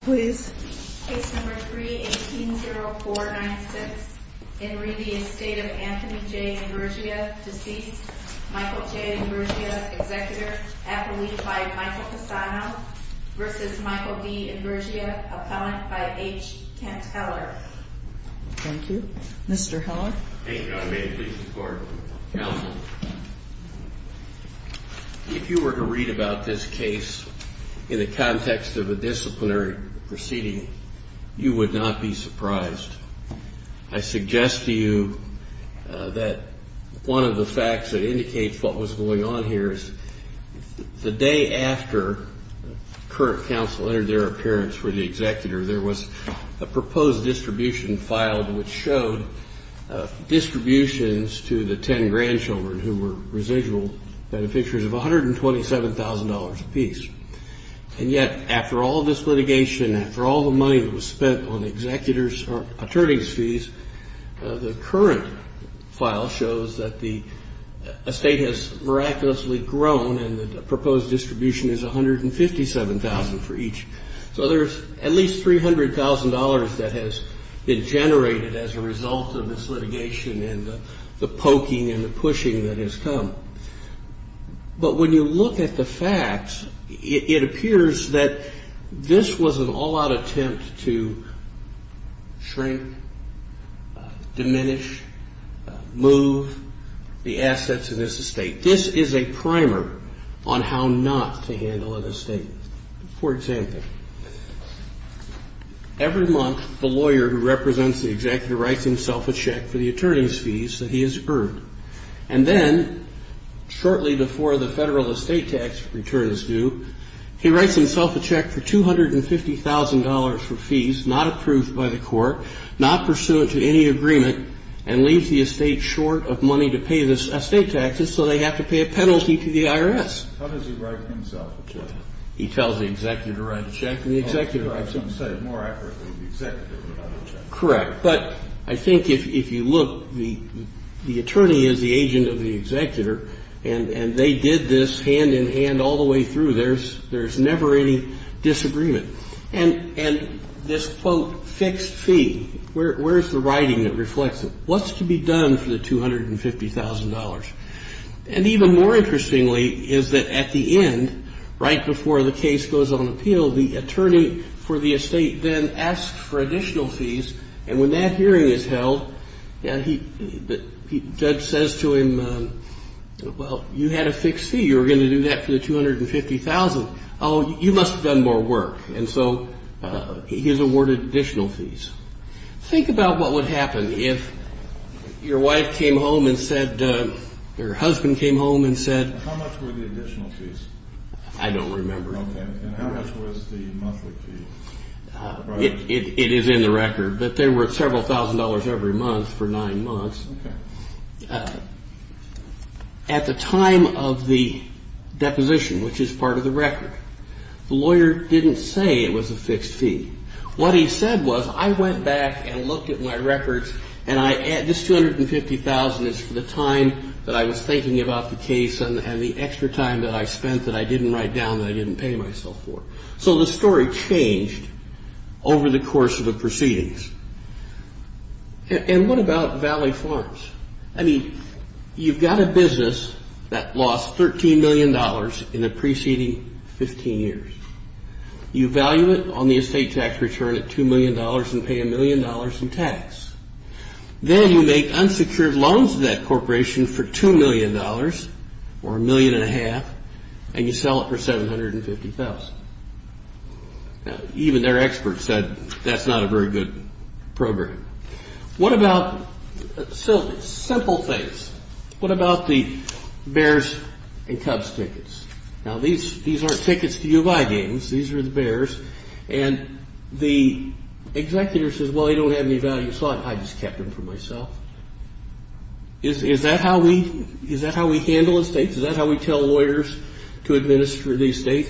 Please. Case number 3-18-04-96. In re the Estate of Anthony J. Imburgia, deceased. Michael J. Imburgia, executor. Appellee by Michael Cassano versus Michael D. Imburgia, appellant by H. Kent Heller. Thank you. Mr. Heller. Thank you. May it please the Court. Counsel, if you were to read about this case in the context of a disciplinary proceeding, you would not be surprised. I suggest to you that one of the facts that indicates what was going on here is the day after the current counsel entered their appearance for the executor, there was a proposed distribution filed which showed distributions to the 10 grandchildren who were residual beneficiaries of $127,000 apiece. And yet, after all this litigation, after all the money that was spent on executor's or attorney's fees, the current file shows that the estate has miraculously grown and the proposed distribution is $157,000 for each. So there's at least $300,000 that has been generated as a result of this litigation and the poking and the pushing that has come. But when you look at the facts, it appears that this was an all-out attempt to shrink, diminish, move the assets of this estate. This is a primer on how not to handle an estate. For example, every month the lawyer who represents the executor writes himself a check for the attorney's fees that he has earned. And then shortly before the Federal estate tax return is due, he writes himself a check for $250,000 for fees not approved by the court, not pursuant to any agreement, and leaves the estate short of money to pay the estate taxes so they have to pay a penalty to the IRS. How does he write himself a check? He tells the executor to write a check, and the executor writes a check. I'm sorry. More accurately, the executor would write a check. Correct. But I think if you look, the attorney is the agent of the executor, and they did this hand-in-hand all the way through. There's never any disagreement. And this, quote, fixed fee, where's the writing that reflects it? What's to be done for the $250,000? And even more interestingly is that at the end, right before the case goes on appeal, the attorney for the estate then asks for additional fees. And when that hearing is held, the judge says to him, well, you had a fixed fee. You were going to do that for the $250,000. Oh, you must have done more work. And so he's awarded additional fees. Think about what would happen if your wife came home and said, your husband came home and said... How much were the additional fees? I don't remember. And how much was the monthly fee? It is in the record. But there were several thousand dollars every month for nine months. Okay. At the time of the deposition, which is part of the record, the lawyer didn't say it was a fixed fee. What he said was, I went back and looked at my records, and this $250,000 is for the time that I was thinking about the case and the extra time that I spent that I didn't write down that I didn't pay myself for. So the story changed over the course of the proceedings. And what about Valley Farms? I mean, you've got a business that lost $13 million in the preceding 15 years. You value it on the estate tax return at $2 million and pay $1 million in tax. Then you make unsecured loans to that corporation for $2 million, or $1.5 million, and you sell it for $750,000. Even their experts said that's not a very good program. What about simple things? What about the Bears and Cubs tickets? Now, these aren't tickets to U of I games. These are the Bears. And the executor says, well, they don't have any value. So I just kept them for myself. Is that how we handle estates? Is that how we tell lawyers to administer the estate,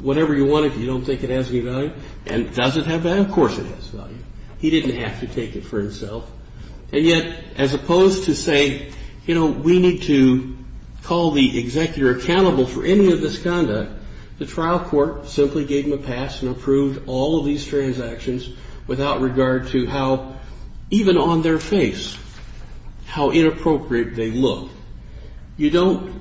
whatever you want if you don't think it has any value? And does it have value? Of course it has value. He didn't have to take it for himself. And yet, as opposed to saying, you know, we need to call the executor accountable for any of this conduct, the trial court simply gave him a pass and approved all of these transactions without regard to how, even on their face, how inappropriate they look. You don't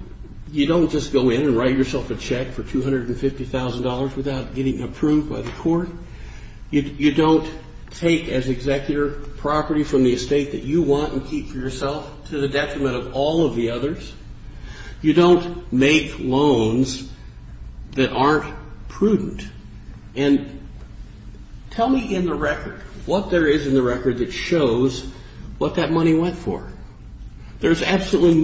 just go in and write yourself a check for $250,000 without getting approved by the court. You don't take as executor property from the estate that you want and keep for yourself to the detriment of all of the others. You don't make loans that aren't prudent. And tell me in the record what there is in the record that shows what that money went for. There's absolutely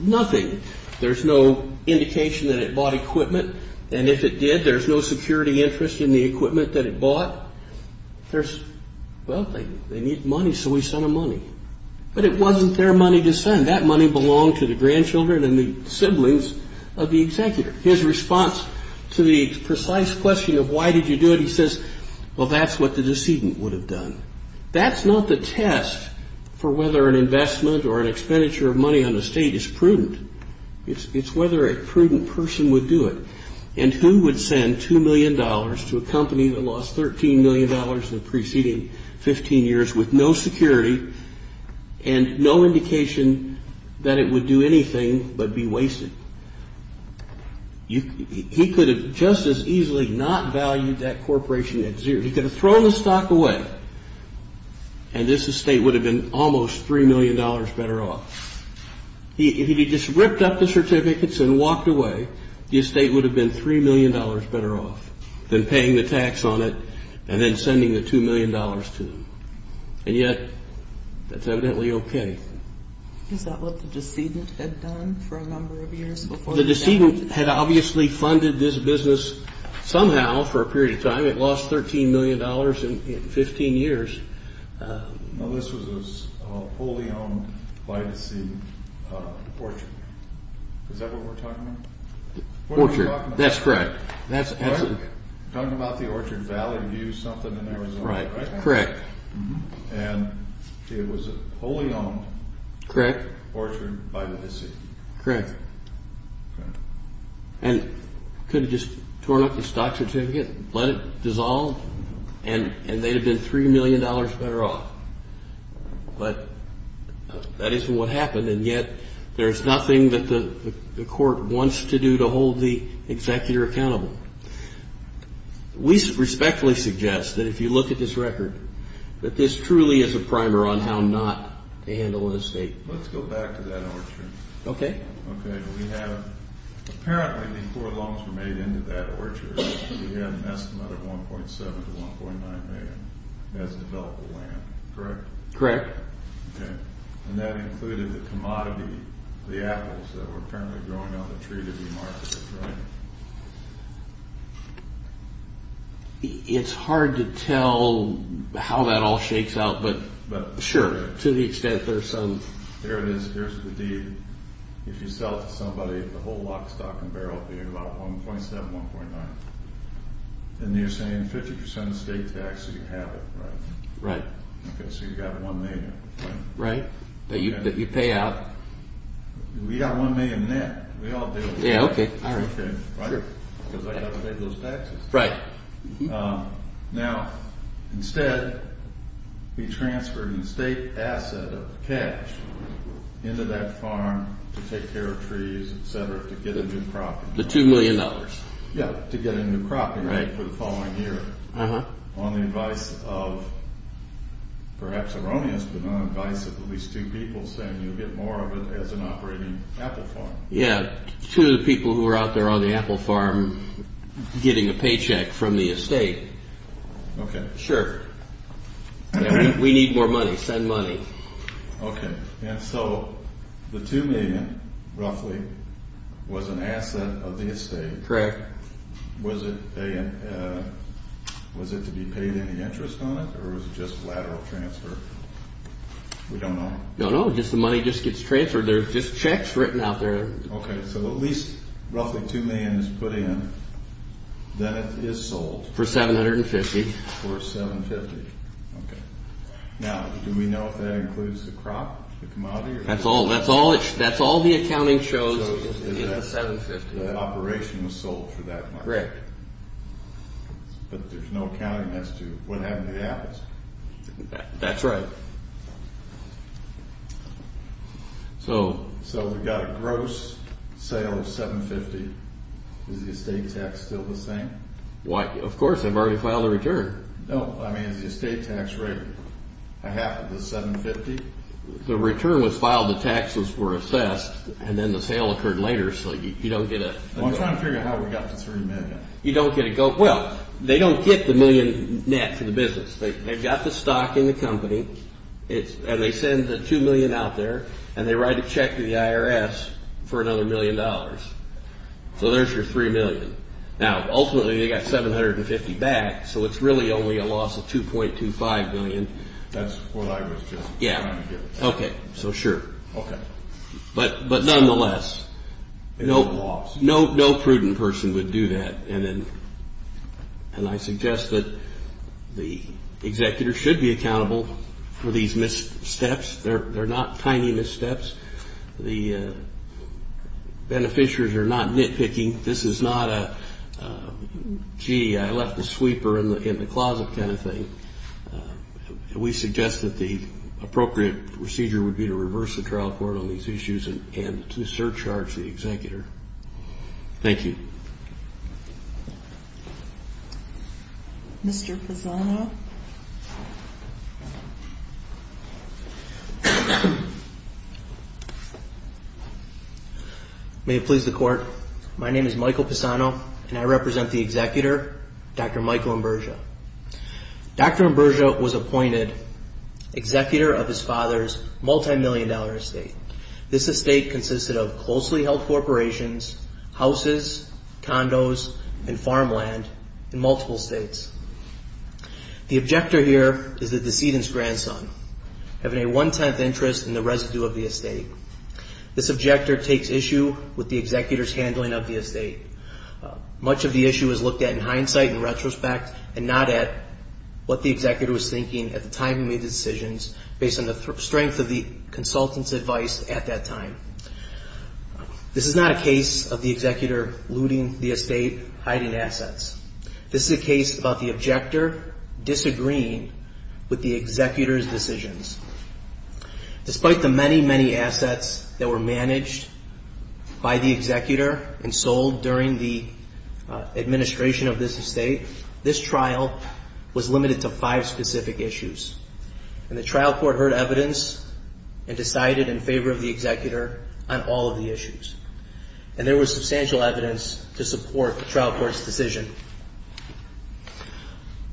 nothing. There's no indication that it bought equipment. And if it did, there's no security interest in the equipment that it bought. There's, well, they need money, so we send them money. But it wasn't their money to send. That money belonged to the grandchildren and the siblings of the executor. His response to the precise question of why did you do it, he says, well, that's what the decedent would have done. That's not the test for whether an investment or an expenditure of money on the estate is prudent. It's whether a prudent person would do it. And who would send $2 million to a company that lost $13 million in the preceding 15 years with no security and no indication that it would do anything but be wasted? He could have just as easily not valued that corporation at zero. If he could have thrown the stock away, and this estate would have been almost $3 million better off. If he just ripped up the certificates and walked away, the estate would have been $3 million better off than paying the tax on it and then sending the $2 million to them. And yet, that's evidently okay. Is that what the decedent had done for a number of years before? The decedent had obviously funded this business somehow for a period of time. It lost $13 million in 15 years. Now, this was a wholly owned, by the sea, orchard. Is that what we're talking about? Orchard, that's correct. We're talking about the Orchard Valley View something in Arizona, right? Correct. And it was a wholly owned orchard by the sea. Correct. And could have just torn up the stock certificate, let it dissolve, and they'd have been $3 million better off. But that isn't what happened. And yet, there's nothing that the court wants to do to hold the executor accountable. We respectfully suggest that if you look at this record, that this truly is a primer on how not to handle an estate. Let's go back to that orchard. Okay. Okay, we have, apparently before loans were made into that orchard, we had an estimate of $1.7 to $1.9 million as developable land, correct? Correct. Okay. And that included the commodity, the apples that were apparently growing on the tree to be marketed, right? It's hard to tell how that all shakes out, but sure, to the extent there's some. Here it is. Here's the deed. If you sell it to somebody, the whole lock, stock, and barrel would be about $1.7, $1.9. And you're saying 50% estate tax, you have it, right? Right. Okay, so you've got $1 million. Right, that you pay out. We got $1 million net. We all did. Yeah, okay, all right. Okay, right? Because I got to pay those taxes. Right. Now, instead, we transferred an estate asset of cash into that farm to take care of trees, etc., to get a new crop. The $2 million. Yeah, to get a new crop for the following year on the advice of perhaps erroneous, but on the advice of at least two people saying you'll get more of it as an operating apple farm. Yeah, two people who were out there on the apple farm getting a paycheck from the estate. Okay. Sure. We need more money. Send money. Okay, and so the $2 million, roughly, was an asset of the estate. Correct. Was it to be paid any interest on it, or was it just lateral transfer? We don't know. No, no, just the money just gets transferred. There's just checks written out there. Okay, so at least roughly $2 million is put in, then it is sold. For $750. For $750. Okay. Now, do we know if that includes the crop, the commodity? That's all the accounting shows is the $750. So the operation was sold for that much. Correct. But there's no accounting as to what happened to the apples. That's right. So we've got a gross sale of $750. Is the estate tax still the same? Of course, I've already filed a return. No, I mean, is the estate tax rate a half of the $750? The return was filed, the taxes were assessed, and then the sale occurred later, so you don't get a... Well, I'm trying to figure out how we got the $3 million. You don't get a... Well, they don't get the million net for the business. They've got the stock in the company, and they send the $2 million out there, and they write a check to the IRS for another $1 million. So there's your $3 million. Now, ultimately, they got $750 back, so it's really only a loss of $2.25 million. That's what I was just trying to do. Yeah. Okay, so sure. Okay. But nonetheless, no prudent person would do that. And I suggest that the executor should be accountable for these missteps. They're not tiny missteps. The beneficiaries are not nitpicking. This is not a, gee, I left the sweeper in the closet kind of thing. We suggest that the appropriate procedure would be to reverse the trial court on these issues and to surcharge the executor. Thank you. Thank you. Mr. Pisano. May it please the Court. My name is Michael Pisano, and I represent the executor, Dr. Michael Ambrosia. Dr. Ambrosia was appointed executor of his father's multimillion-dollar estate. This estate consisted of closely held corporations, houses, condos, and farmland in multiple states. The objector here is the decedent's grandson, having a one-tenth interest in the residue of the estate. This objector takes issue with the executor's handling of the estate. Much of the issue is looked at in hindsight, in retrospect, and not at what the executor was thinking at the time he made the decisions, based on the strength of the consultant's advice at that time. This is not a case of the executor looting the estate, hiding assets. This is a case about the objector disagreeing with the executor's decisions. Despite the many, many assets that were managed by the executor and sold during the administration of this estate, this trial was limited to five specific issues. And the trial court heard evidence and decided in favor of the executor on all of the issues. And there was substantial evidence to support the trial court's decision.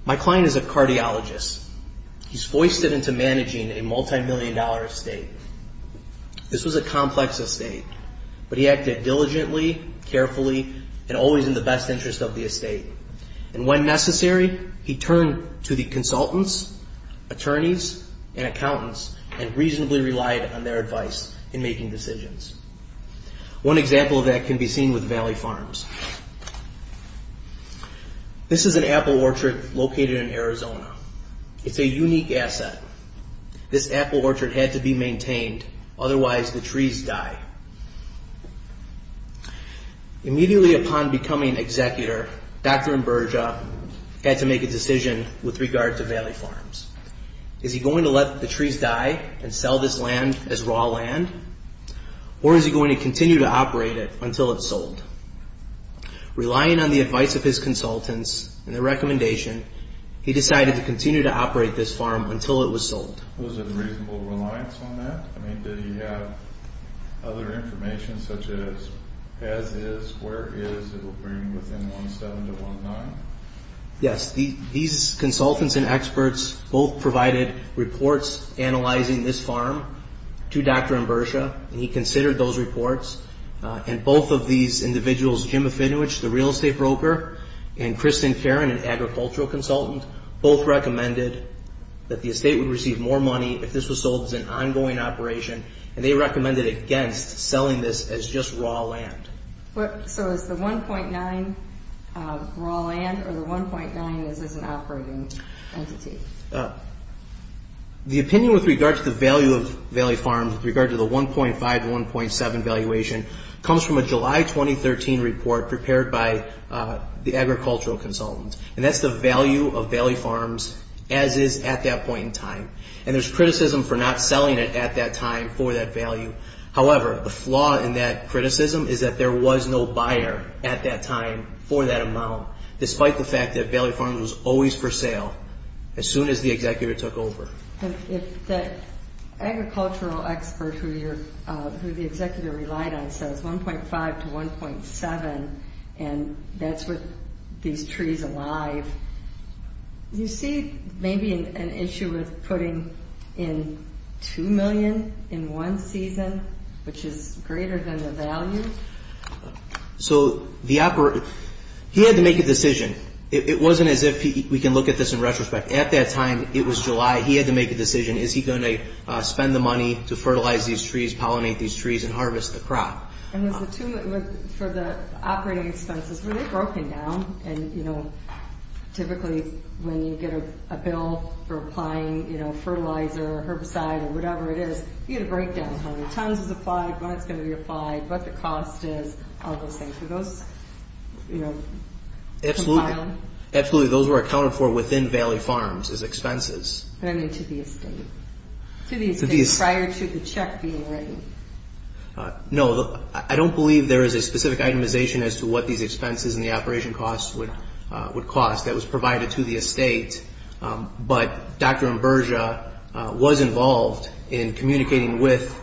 My client is a cardiologist. He's foisted into managing a multimillion-dollar estate. This was a complex estate, but he acted diligently, carefully, and always in the best interest of the estate. And when necessary, he turned to the consultants, attorneys, and accountants and reasonably relied on their advice in making decisions. One example of that can be seen with Valley Farms. This is an apple orchard located in Arizona. It's a unique asset. This apple orchard had to be maintained, otherwise the trees die. Immediately upon becoming executor, Dr. Imburgia had to make a decision with regard to Valley Farms. Is he going to let the trees die and sell this land as raw land? Or is he going to continue to operate it until it's sold? Relying on the advice of his consultants and the recommendation, he decided to continue to operate this farm until it was sold. Was it a reasonable reliance on that? I mean, did he have other information such as as-is, where-is, it will bring within 1-7 to 1-9? Yes. These consultants and experts both provided reports analyzing this farm to Dr. Imburgia, and he considered those reports. And both of these individuals, Jim Afinowich, the real estate broker, and Kristen Caron, an agricultural consultant, both recommended that the estate would receive more money if this was sold as an ongoing operation, and they recommended against selling this as just raw land. So is the 1.9 raw land, or the 1.9 is as an operating entity? The opinion with regard to the value of Valley Farms, with regard to the 1.5 to 1.7 valuation, comes from a July 2013 report prepared by the agricultural consultant. And that's the value of Valley Farms as-is at that point in time. And there's criticism for not selling it at that time for that value. However, the flaw in that criticism is that there was no buyer at that time for that amount, despite the fact that Valley Farms was always for sale as soon as the executor took over. If the agricultural expert who the executor relied on says 1.5 to 1.7, and that's with these trees alive, you see maybe an issue with putting in $2 million in one season, which is greater than the value. So he had to make a decision. It wasn't as if we can look at this in retrospect. At that time, it was July. He had to make a decision. Is he going to spend the money to fertilize these trees, pollinate these trees, and harvest the crop? For the operating expenses, were they broken down? Typically, when you get a bill for applying fertilizer, herbicide, or whatever it is, you get a breakdown of how many tons is applied, when it's going to be applied, what the cost is, all those things. Were those compiled? Absolutely. Those were accounted for within Valley Farms as expenses. To the estate. Prior to the check being written. No. I don't believe there is a specific itemization as to what these expenses and the operation costs would cost. That was provided to the estate, but Dr. Imburgia was involved in communicating with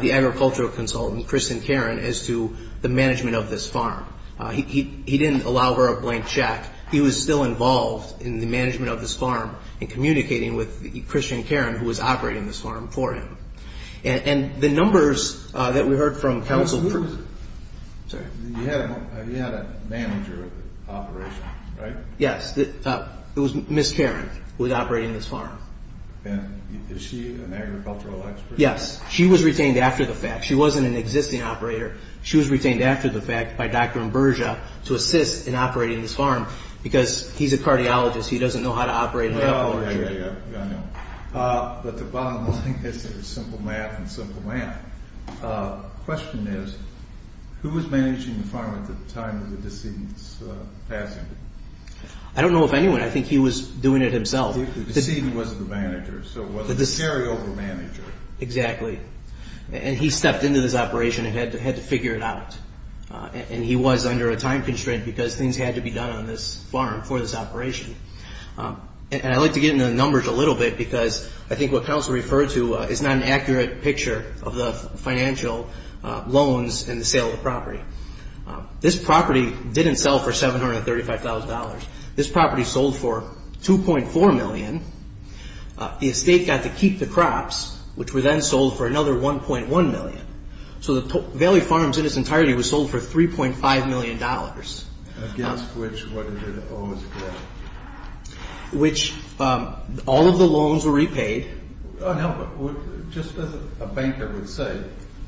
the agricultural consultant, Christian Caron, as to the management of this farm. He didn't allow for a blank check. He was still involved in the management of this farm and communicating with Christian Caron, who was operating this farm, for him. And the numbers that we heard from counsel... Who is it? Sorry. You had a manager of the operation, right? Yes. It was Ms. Caron, who was operating this farm. And is she an agricultural expert? Yes. She was retained after the fact. She wasn't an existing operator. She was retained after the fact by Dr. Imburgia to assist in operating this farm, because he's a cardiologist. He doesn't know how to operate an apple tree. Oh, yeah, yeah, yeah. I know. But the bottom line is there's simple math and simple math. The question is, who was managing the farm at the time of the decedent's passing? I don't know of anyone. I think he was doing it himself. The decedent wasn't the manager, so it was a carryover manager. Exactly. And he stepped into this operation and had to figure it out. And he was under a time constraint, because things had to be done on this farm for this operation. And I'd like to get into the numbers a little bit, because I think what counsel referred to is not an accurate picture of the financial loans and the sale of the property. This property didn't sell for $735,000. This property sold for $2.4 million. The estate got to keep the crops, which were then sold for another $1.1 million. So the Valley Farms in its entirety was sold for $3.5 million. Against which, what did it owe the estate? All of the loans were repaid. No, but just as a banker would say,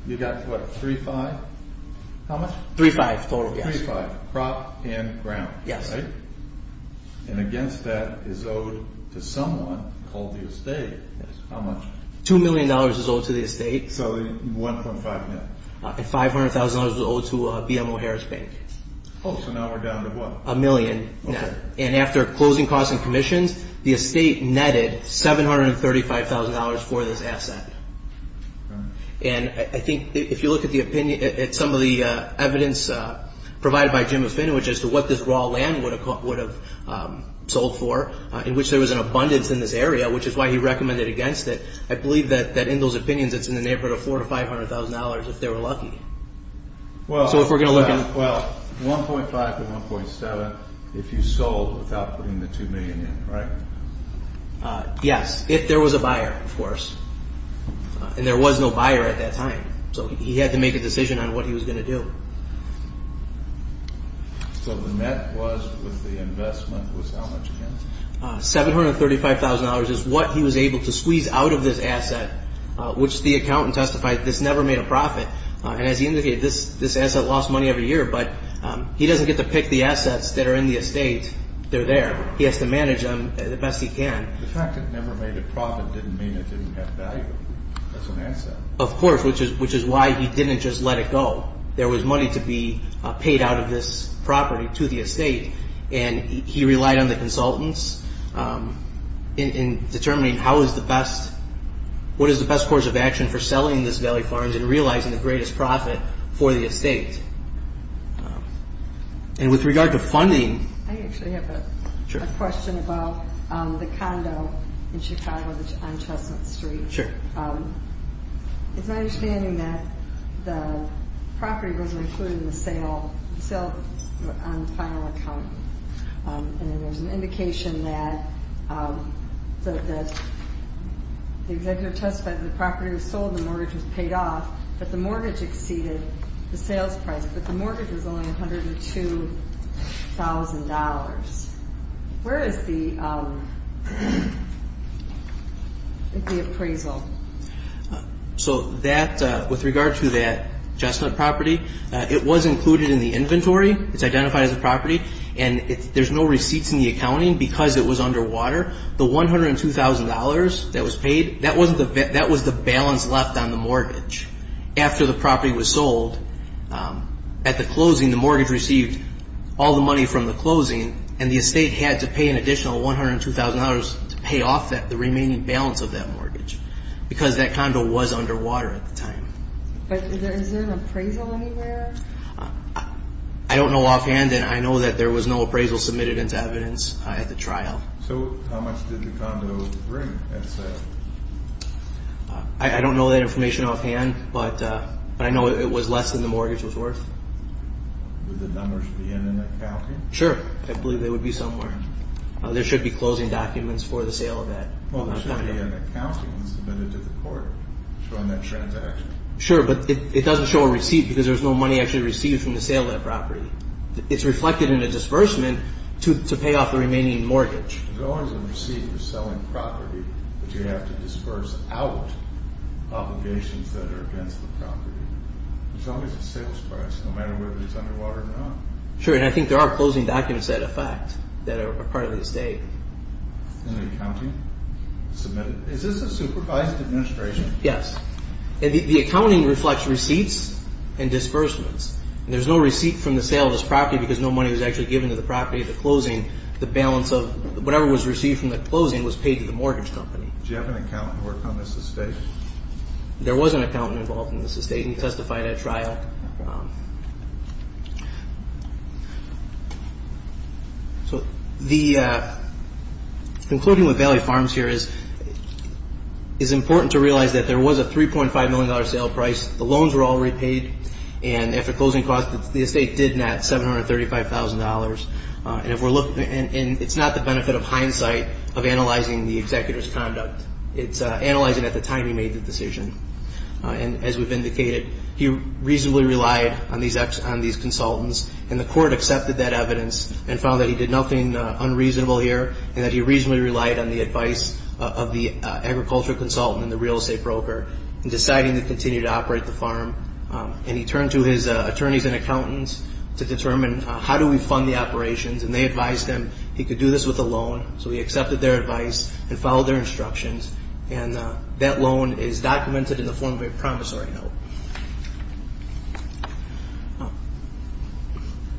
you got what, 3-5? How much? 3-5, total, yes. 3-5, crop and ground, right? Yes. And against that is owed to someone called the estate. Yes. How much? $2 million is owed to the estate. So 1.5 million. And $500,000 was owed to BMO Harris Bank. Oh, so now we're down to what? $1 million net. And after closing costs and commissions, the estate netted $735,000 for this asset. And I think if you look at some of the evidence provided by Jim O'Finn, which is to what this raw land would have sold for, in which there was an abundance in this area, which is why he recommended against it, I believe that in those opinions it's in the neighborhood of $400,000 to $500,000 if they were lucky. So if we're going to look at it. Well, 1.5 to 1.7 if you sold without putting the $2 million in, right? Yes, if there was a buyer, of course. And there was no buyer at that time, so he had to make a decision on what he was going to do. So the net was with the investment was how much again? $735,000 is what he was able to squeeze out of this asset, which the accountant testified this never made a profit. And as he indicated, this asset lost money every year, but he doesn't get to pick the assets that are in the estate. They're there. He has to manage them the best he can. The fact it never made a profit didn't mean it didn't have value as an asset. Of course, which is why he didn't just let it go. And he relied on the consultants in determining what is the best course of action for selling this Valley Farms and realizing the greatest profit for the estate. And with regard to funding. I actually have a question about the condo in Chicago on Chestnut Street. It's my understanding that the property wasn't included in the sale on the final account. And there's an indication that the executive testified that the property was sold and the mortgage was paid off, but the mortgage exceeded the sales price. But the mortgage was only $102,000. Where is the appraisal? So with regard to that Chestnut property, it was included in the inventory. It's identified as a property. And there's no receipts in the accounting because it was underwater. The $102,000 that was paid, that was the balance left on the mortgage. After the property was sold, at the closing, the mortgage received all the money from the closing, and the estate had to pay an additional $102,000 to pay off the remaining balance of that mortgage because that condo was underwater at the time. But is there an appraisal anywhere? I don't know offhand, and I know that there was no appraisal submitted into evidence at the trial. So how much did the condo bring at sale? I don't know that information offhand, but I know it was less than the mortgage was worth. Would the numbers be in an accounting? Sure. I believe they would be somewhere. There should be closing documents for the sale of that condo. Well, there should be an accounting submitted to the court showing that transaction. Sure, but it doesn't show a receipt because there's no money actually received from the sale of that property. It's reflected in a disbursement to pay off the remaining mortgage. There's always a receipt for selling property, but you have to disperse out obligations that are against the property. There's always a sales price, no matter whether it's underwater or not. Sure, and I think there are closing documents that affect, that are part of the estate. In the accounting? Submitted? Is this a supervised administration? Yes. The accounting reflects receipts and disbursements. There's no receipt from the sale of this property because no money was actually given to the property at the closing. The balance of whatever was received from the closing was paid to the mortgage company. Did you have an accountant work on this estate? There was an accountant involved in this estate, and he testified at a trial. So concluding with Valley Farms here is it's important to realize that there was a $3.5 million sale price. The loans were all repaid, and after closing costs, the estate did net $735,000. And it's not the benefit of hindsight of analyzing the executor's conduct. It's analyzing at the time he made the decision. And as we've indicated, he reasonably relied on these consultants, and the court accepted that evidence and found that he did nothing unreasonable here and that he reasonably relied on the advice of the agricultural consultant and the real estate broker in deciding to continue to operate the farm. And he turned to his attorneys and accountants to determine how do we fund the operations, and they advised him he could do this with a loan. So he accepted their advice and followed their instructions, and that loan is documented in the form of a promissory note.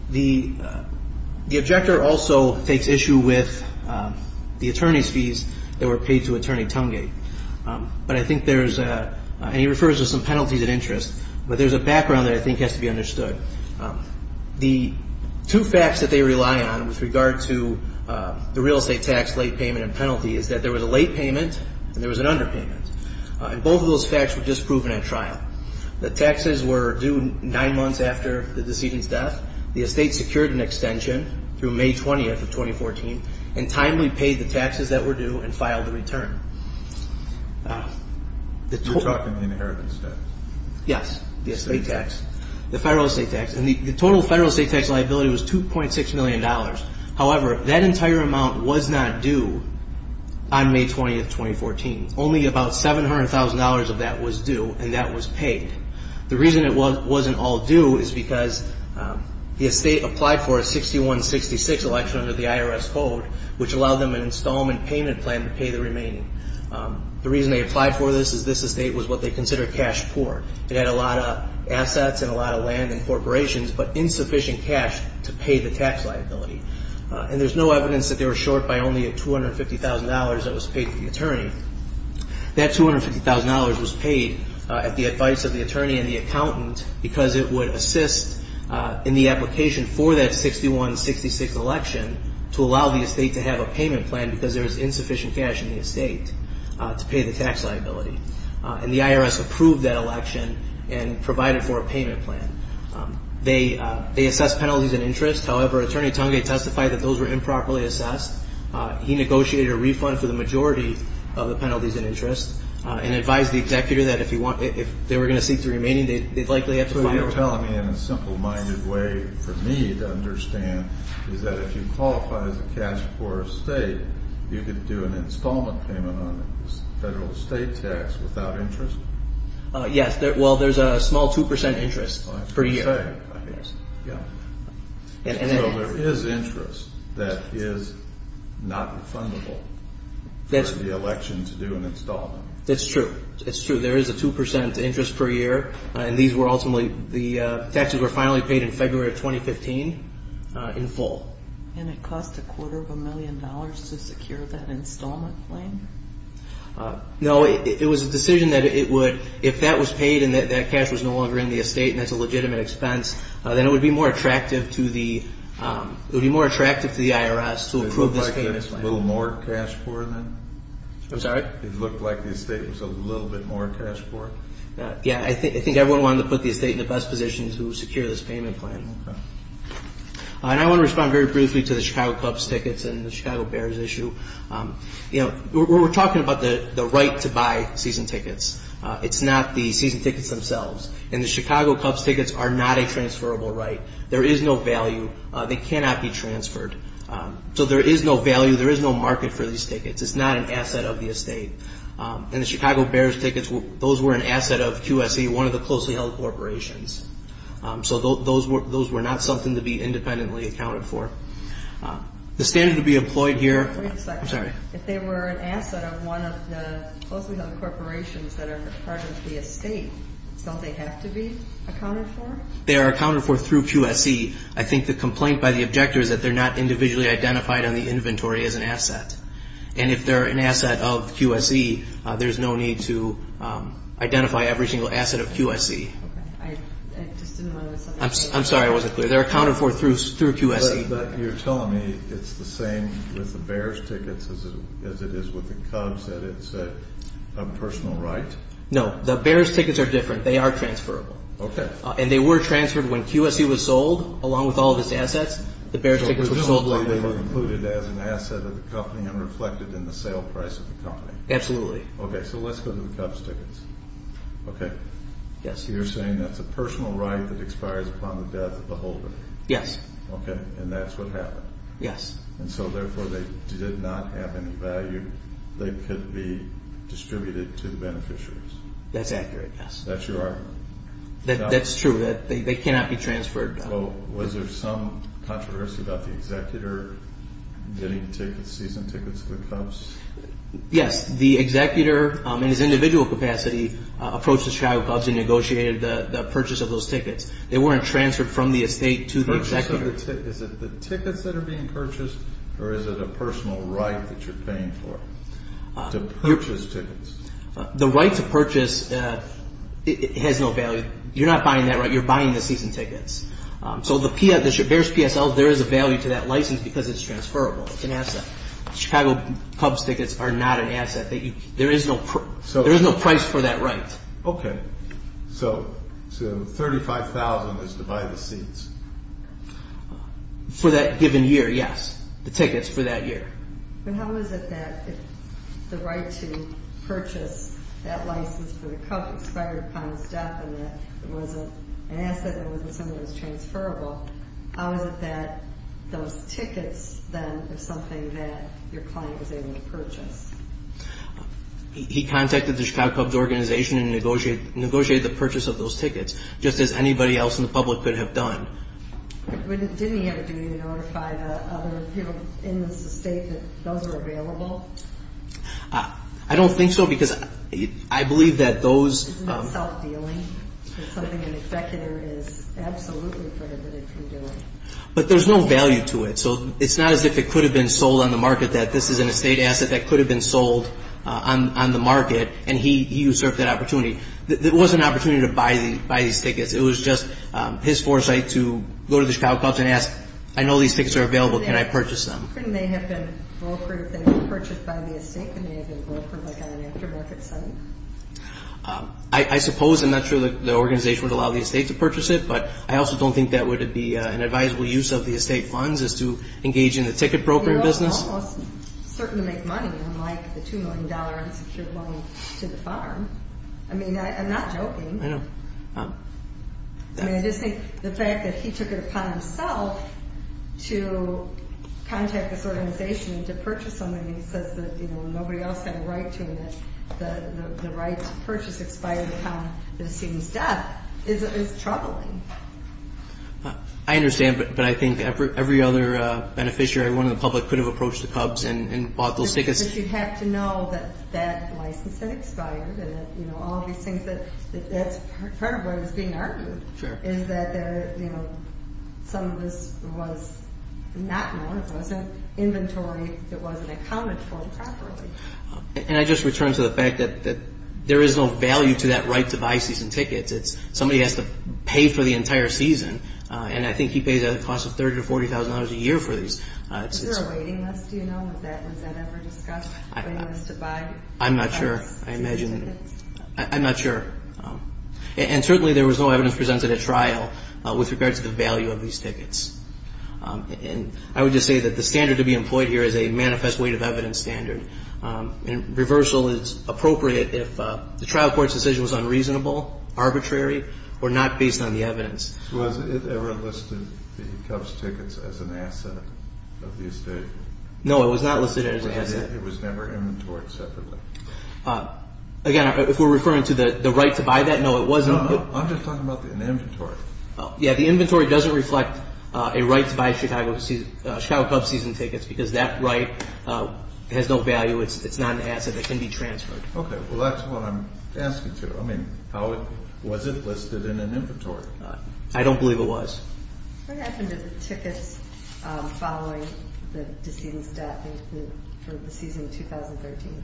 The objector also takes issue with the attorney's fees that were paid to Attorney Tumgate. But I think there's a – and he refers to some penalties and interest, but there's a background that I think has to be understood. The two facts that they rely on with regard to the real estate tax late payment and penalty is that there was a late payment and there was an underpayment, and both of those facts were just proven at trial. The taxes were due nine months after the decedent's death. The estate secured an extension through May 20th of 2014 and timely paid the taxes that were due and filed the return. You're talking the inheritance tax? Yes, the estate tax. The federal estate tax. And the total federal estate tax liability was $2.6 million. However, that entire amount was not due on May 20th, 2014. Only about $700,000 of that was due, and that was paid. The reason it wasn't all due is because the estate applied for a 6166 election under the IRS code, which allowed them an installment payment plan to pay the remaining. The reason they applied for this is this estate was what they considered cash poor. It had a lot of assets and a lot of land and corporations, but insufficient cash to pay the tax liability. And there's no evidence that they were short by only $250,000 that was paid to the attorney. That $250,000 was paid at the advice of the attorney and the accountant because it would assist in the application for that 6166 election to allow the estate to have a payment plan because there was insufficient cash in the estate to pay the tax liability. And the IRS approved that election and provided for a payment plan. They assessed penalties and interest. He negotiated a refund for the majority of the penalties and interest and advised the executive that if they were going to seek the remaining, they'd likely have to file it. So what you're telling me in a simple-minded way for me to understand is that if you qualify as a cash poor estate, you could do an installment payment on the federal estate tax without interest? Yes. Well, there's a small 2% interest per year. Okay, I guess. Yeah. So there is interest that is not refundable for the election to do an installment. That's true. That's true. There is a 2% interest per year, and these were ultimately the taxes were finally paid in February of 2015 in full. And it cost a quarter of a million dollars to secure that installment plan? No, it was a decision that it would, if that was paid and that cash was no longer in the estate and that's a legitimate expense, then it would be more attractive to the IRS to approve this payment plan. It looked like there was a little more cash for it then? I'm sorry? It looked like the estate was a little bit more cash for it? Yeah, I think everyone wanted to put the estate in the best position to secure this payment plan. Okay. And I want to respond very briefly to the Chicago Cups tickets and the Chicago Bears issue. You know, we're talking about the right to buy season tickets. It's not the season tickets themselves. And the Chicago Cups tickets are not a transferable right. There is no value. They cannot be transferred. So there is no value. There is no market for these tickets. It's not an asset of the estate. And the Chicago Bears tickets, those were an asset of QSE, one of the closely held corporations. So those were not something to be independently accounted for. The standard to be employed here- Wait a second. I'm sorry. If they were an asset of one of the closely held corporations that are part of the estate, don't they have to be accounted for? They are accounted for through QSE. I think the complaint by the objector is that they're not individually identified on the inventory as an asset. And if they're an asset of QSE, there's no need to identify every single asset of QSE. I just didn't understand. I'm sorry. I wasn't clear. They're accounted for through QSE. But you're telling me it's the same with the Bears tickets as it is with the Cubs, that it's a personal right? No. The Bears tickets are different. They are transferable. Okay. And they were transferred when QSE was sold along with all of its assets. The Bears tickets were sold- So presumably they were included as an asset of the company and reflected in the sale price of the company. Absolutely. Okay. So let's go to the Cubs tickets. Okay. Yes. You're saying that's a personal right that expires upon the death of the holder. Yes. Okay. And that's what happened. Yes. And so therefore they did not have any value. They could be distributed to the beneficiaries. That's accurate, yes. That's your argument? That's true. They cannot be transferred. Was there some controversy about the executor getting season tickets for the Cubs? Yes. The executor in his individual capacity approached the Chicago Cubs and negotiated the purchase of those tickets. They weren't transferred from the estate to the executor. Is it the tickets that are being purchased or is it a personal right that you're paying for to purchase tickets? The right to purchase has no value. You're not buying that right. You're buying the season tickets. So the Bears PSL, there is a value to that license because it's transferable. It's an asset. The Chicago Cubs tickets are not an asset. There is no price for that right. Okay. So $35,000 is to buy the seats. For that given year, yes. The tickets for that year. But how is it that the right to purchase that license for the Cubs expired upon its death and that it was an asset and wasn't something that was transferable? How is it that those tickets then are something that your client was able to purchase? He contacted the Chicago Cubs organization and negotiated the purchase of those tickets just as anybody else in the public could have done. Didn't he have a duty to notify the other people in this estate that those are available? I don't think so because I believe that those – Isn't that self-dealing? That something an executor is absolutely prohibited from doing? But there's no value to it. So it's not as if it could have been sold on the market, that this is an estate asset that could have been sold on the market, and he usurped that opportunity. It wasn't an opportunity to buy these tickets. It was just his foresight to go to the Chicago Cubs and ask, I know these tickets are available. Can I purchase them? Couldn't they have been brokered if they were purchased by the estate? Couldn't they have been brokered like on an aftermarket site? I suppose. I'm not sure that the organization would allow the estate to purchase it, but I also don't think that would be an advisable use of the estate funds is to engage in the ticket brokering business. He was almost certain to make money, unlike the $2 million insecure loan to the farm. I mean, I'm not joking. I know. I mean, I just think the fact that he took it upon himself to contact this organization and to purchase something and he says that nobody else had a right to it, the right to purchase expired upon the decedent's death, is troubling. I understand, but I think every other beneficiary, everyone in the public, could have approached the Cubs and bought those tickets. But you have to know that that license had expired and all these things. That's part of what is being argued, is that some of this was not known. It wasn't inventory. It wasn't accounted for properly. And I just return to the fact that there is no value to that right to buy season tickets. Somebody has to pay for the entire season, and I think he pays a cost of $30,000 to $40,000 a year for these. Is there a waiting list? Do you know if that was ever discussed? I'm not sure. I imagine. I'm not sure. And certainly there was no evidence presented at trial with regard to the value of these tickets. And I would just say that the standard to be employed here is a manifest weight of evidence standard. And reversal is appropriate if the trial court's decision was unreasonable, arbitrary, or not based on the evidence. Was it ever listed, the Cubs tickets, as an asset of the estate? No, it was not listed as an asset. It was never inventoried separately? Again, if we're referring to the right to buy that, no, it wasn't. No, I'm just talking about an inventory. Yeah, the inventory doesn't reflect a right to buy Chicago Cubs season tickets because that right has no value. It's not an asset. It can be transferred. Okay, well, that's what I'm asking, too. I mean, was it listed in an inventory? I don't believe it was. What happened to the tickets following the decedent's death for the season of 2013?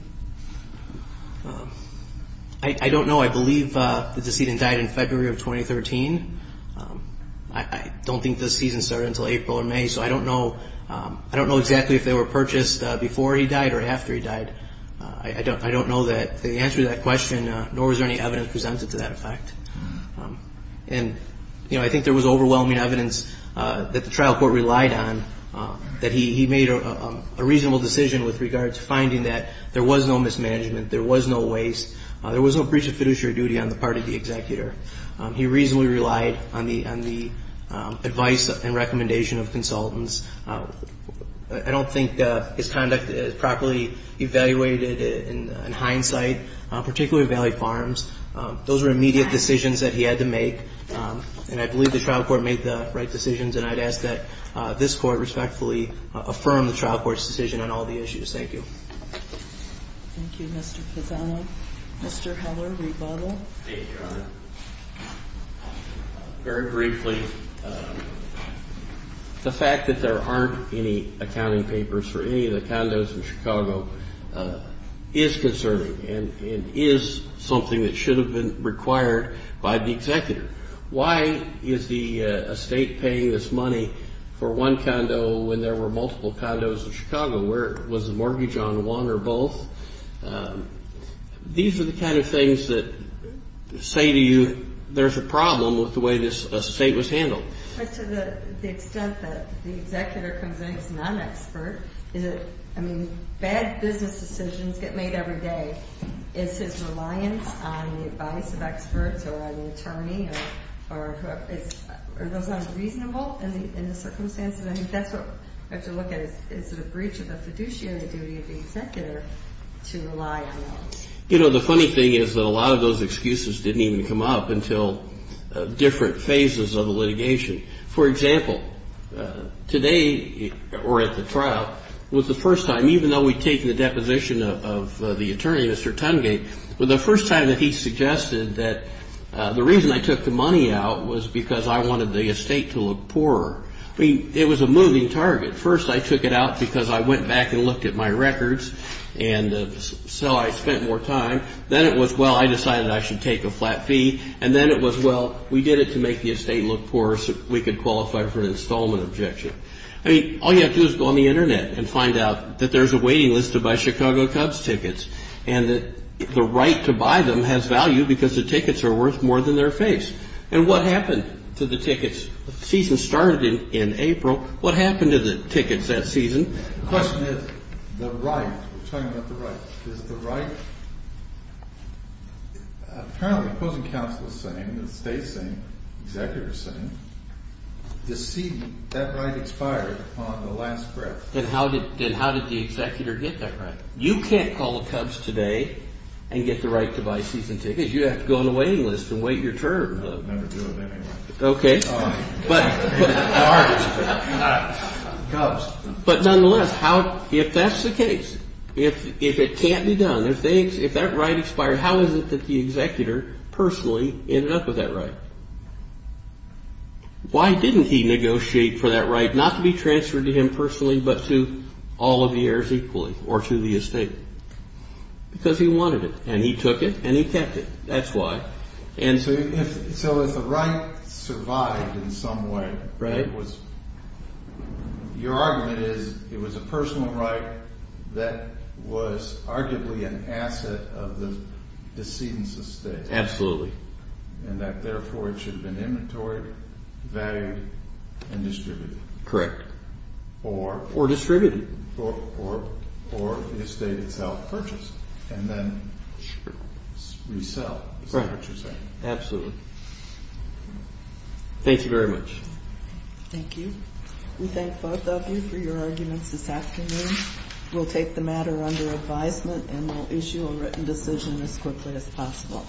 I don't know. I believe the decedent died in February of 2013. I don't think the season started until April or May, so I don't know. I don't know exactly if they were purchased before he died or after he died. I don't know the answer to that question, nor was there any evidence presented to that effect. And, you know, I think there was overwhelming evidence that the trial court relied on, that he made a reasonable decision with regard to finding that there was no mismanagement, there was no waste, there was no breach of fiduciary duty on the part of the executor. He reasonably relied on the advice and recommendation of consultants. I don't think his conduct is properly evaluated in hindsight, particularly with Valley Farms. Those were immediate decisions that he had to make, and I believe the trial court made the right decisions, and I'd ask that this court respectfully affirm the trial court's decision on all the issues. Thank you. Thank you, Mr. Pizzano. Mr. Heller, rebuttal. Thank you, Your Honor. Very briefly, the fact that there aren't any accounting papers for any of the condos in Chicago is concerning and is something that should have been required by the executor. Why is the estate paying this money for one condo when there were multiple condos in Chicago? Was the mortgage on one or both? These are the kind of things that say to you there's a problem with the way this estate was handled. But to the extent that the executor convinced not an expert, is it, I mean, bad business decisions get made every day. Is his reliance on the advice of experts or on the attorney or are those unreasonable in the circumstances? I think that's what we have to look at. Is it a breach of the fiduciary duty of the executor to rely on that? You know, the funny thing is that a lot of those excuses didn't even come up until different phases of the litigation. For example, today or at the trial was the first time, even though we'd taken the deposition of the attorney, Mr. Tungate, was the first time that he suggested that the reason I took the money out was because I wanted the estate to look poorer. I mean, it was a moving target. First, I took it out because I went back and looked at my records and so I spent more time. Then it was, well, I decided I should take a flat fee. And then it was, well, we did it to make the estate look poorer so we could qualify for an installment objection. I mean, all you have to do is go on the Internet and find out that there's a waiting list to buy Chicago Cubs tickets and that the right to buy them has value because the tickets are worth more than their face. And what happened to the tickets? The season started in April. What happened to the tickets that season? The question is the right. We're talking about the right. Is the right apparently opposing counsel is saying, the estate is saying, the executive is saying, the seat, that right expired on the last breath. Then how did the executive get that right? You can't call the Cubs today and get the right to buy season tickets. You'd have to go on the waiting list and wait your turn. I'd never do it anyway. Okay. Cubs. But nonetheless, if that's the case, if it can't be done, if that right expired, how is it that the executor personally ended up with that right? Why didn't he negotiate for that right not to be transferred to him personally but to all of the heirs equally or to the estate? Because he wanted it, and he took it, and he kept it. That's why. So if the right survived in some way, your argument is it was a personal right that was arguably an asset of the decedent's estate. Absolutely. And that, therefore, it should have been inventoried, valued, and distributed. Correct. Or? Or distributed. Or the estate itself purchased and then resell. Right. Is that what you're saying? Absolutely. Thank you very much. Thank you. We thank both of you for your arguments this afternoon. We'll take the matter under advisement, and we'll issue a written decision as quickly as possible.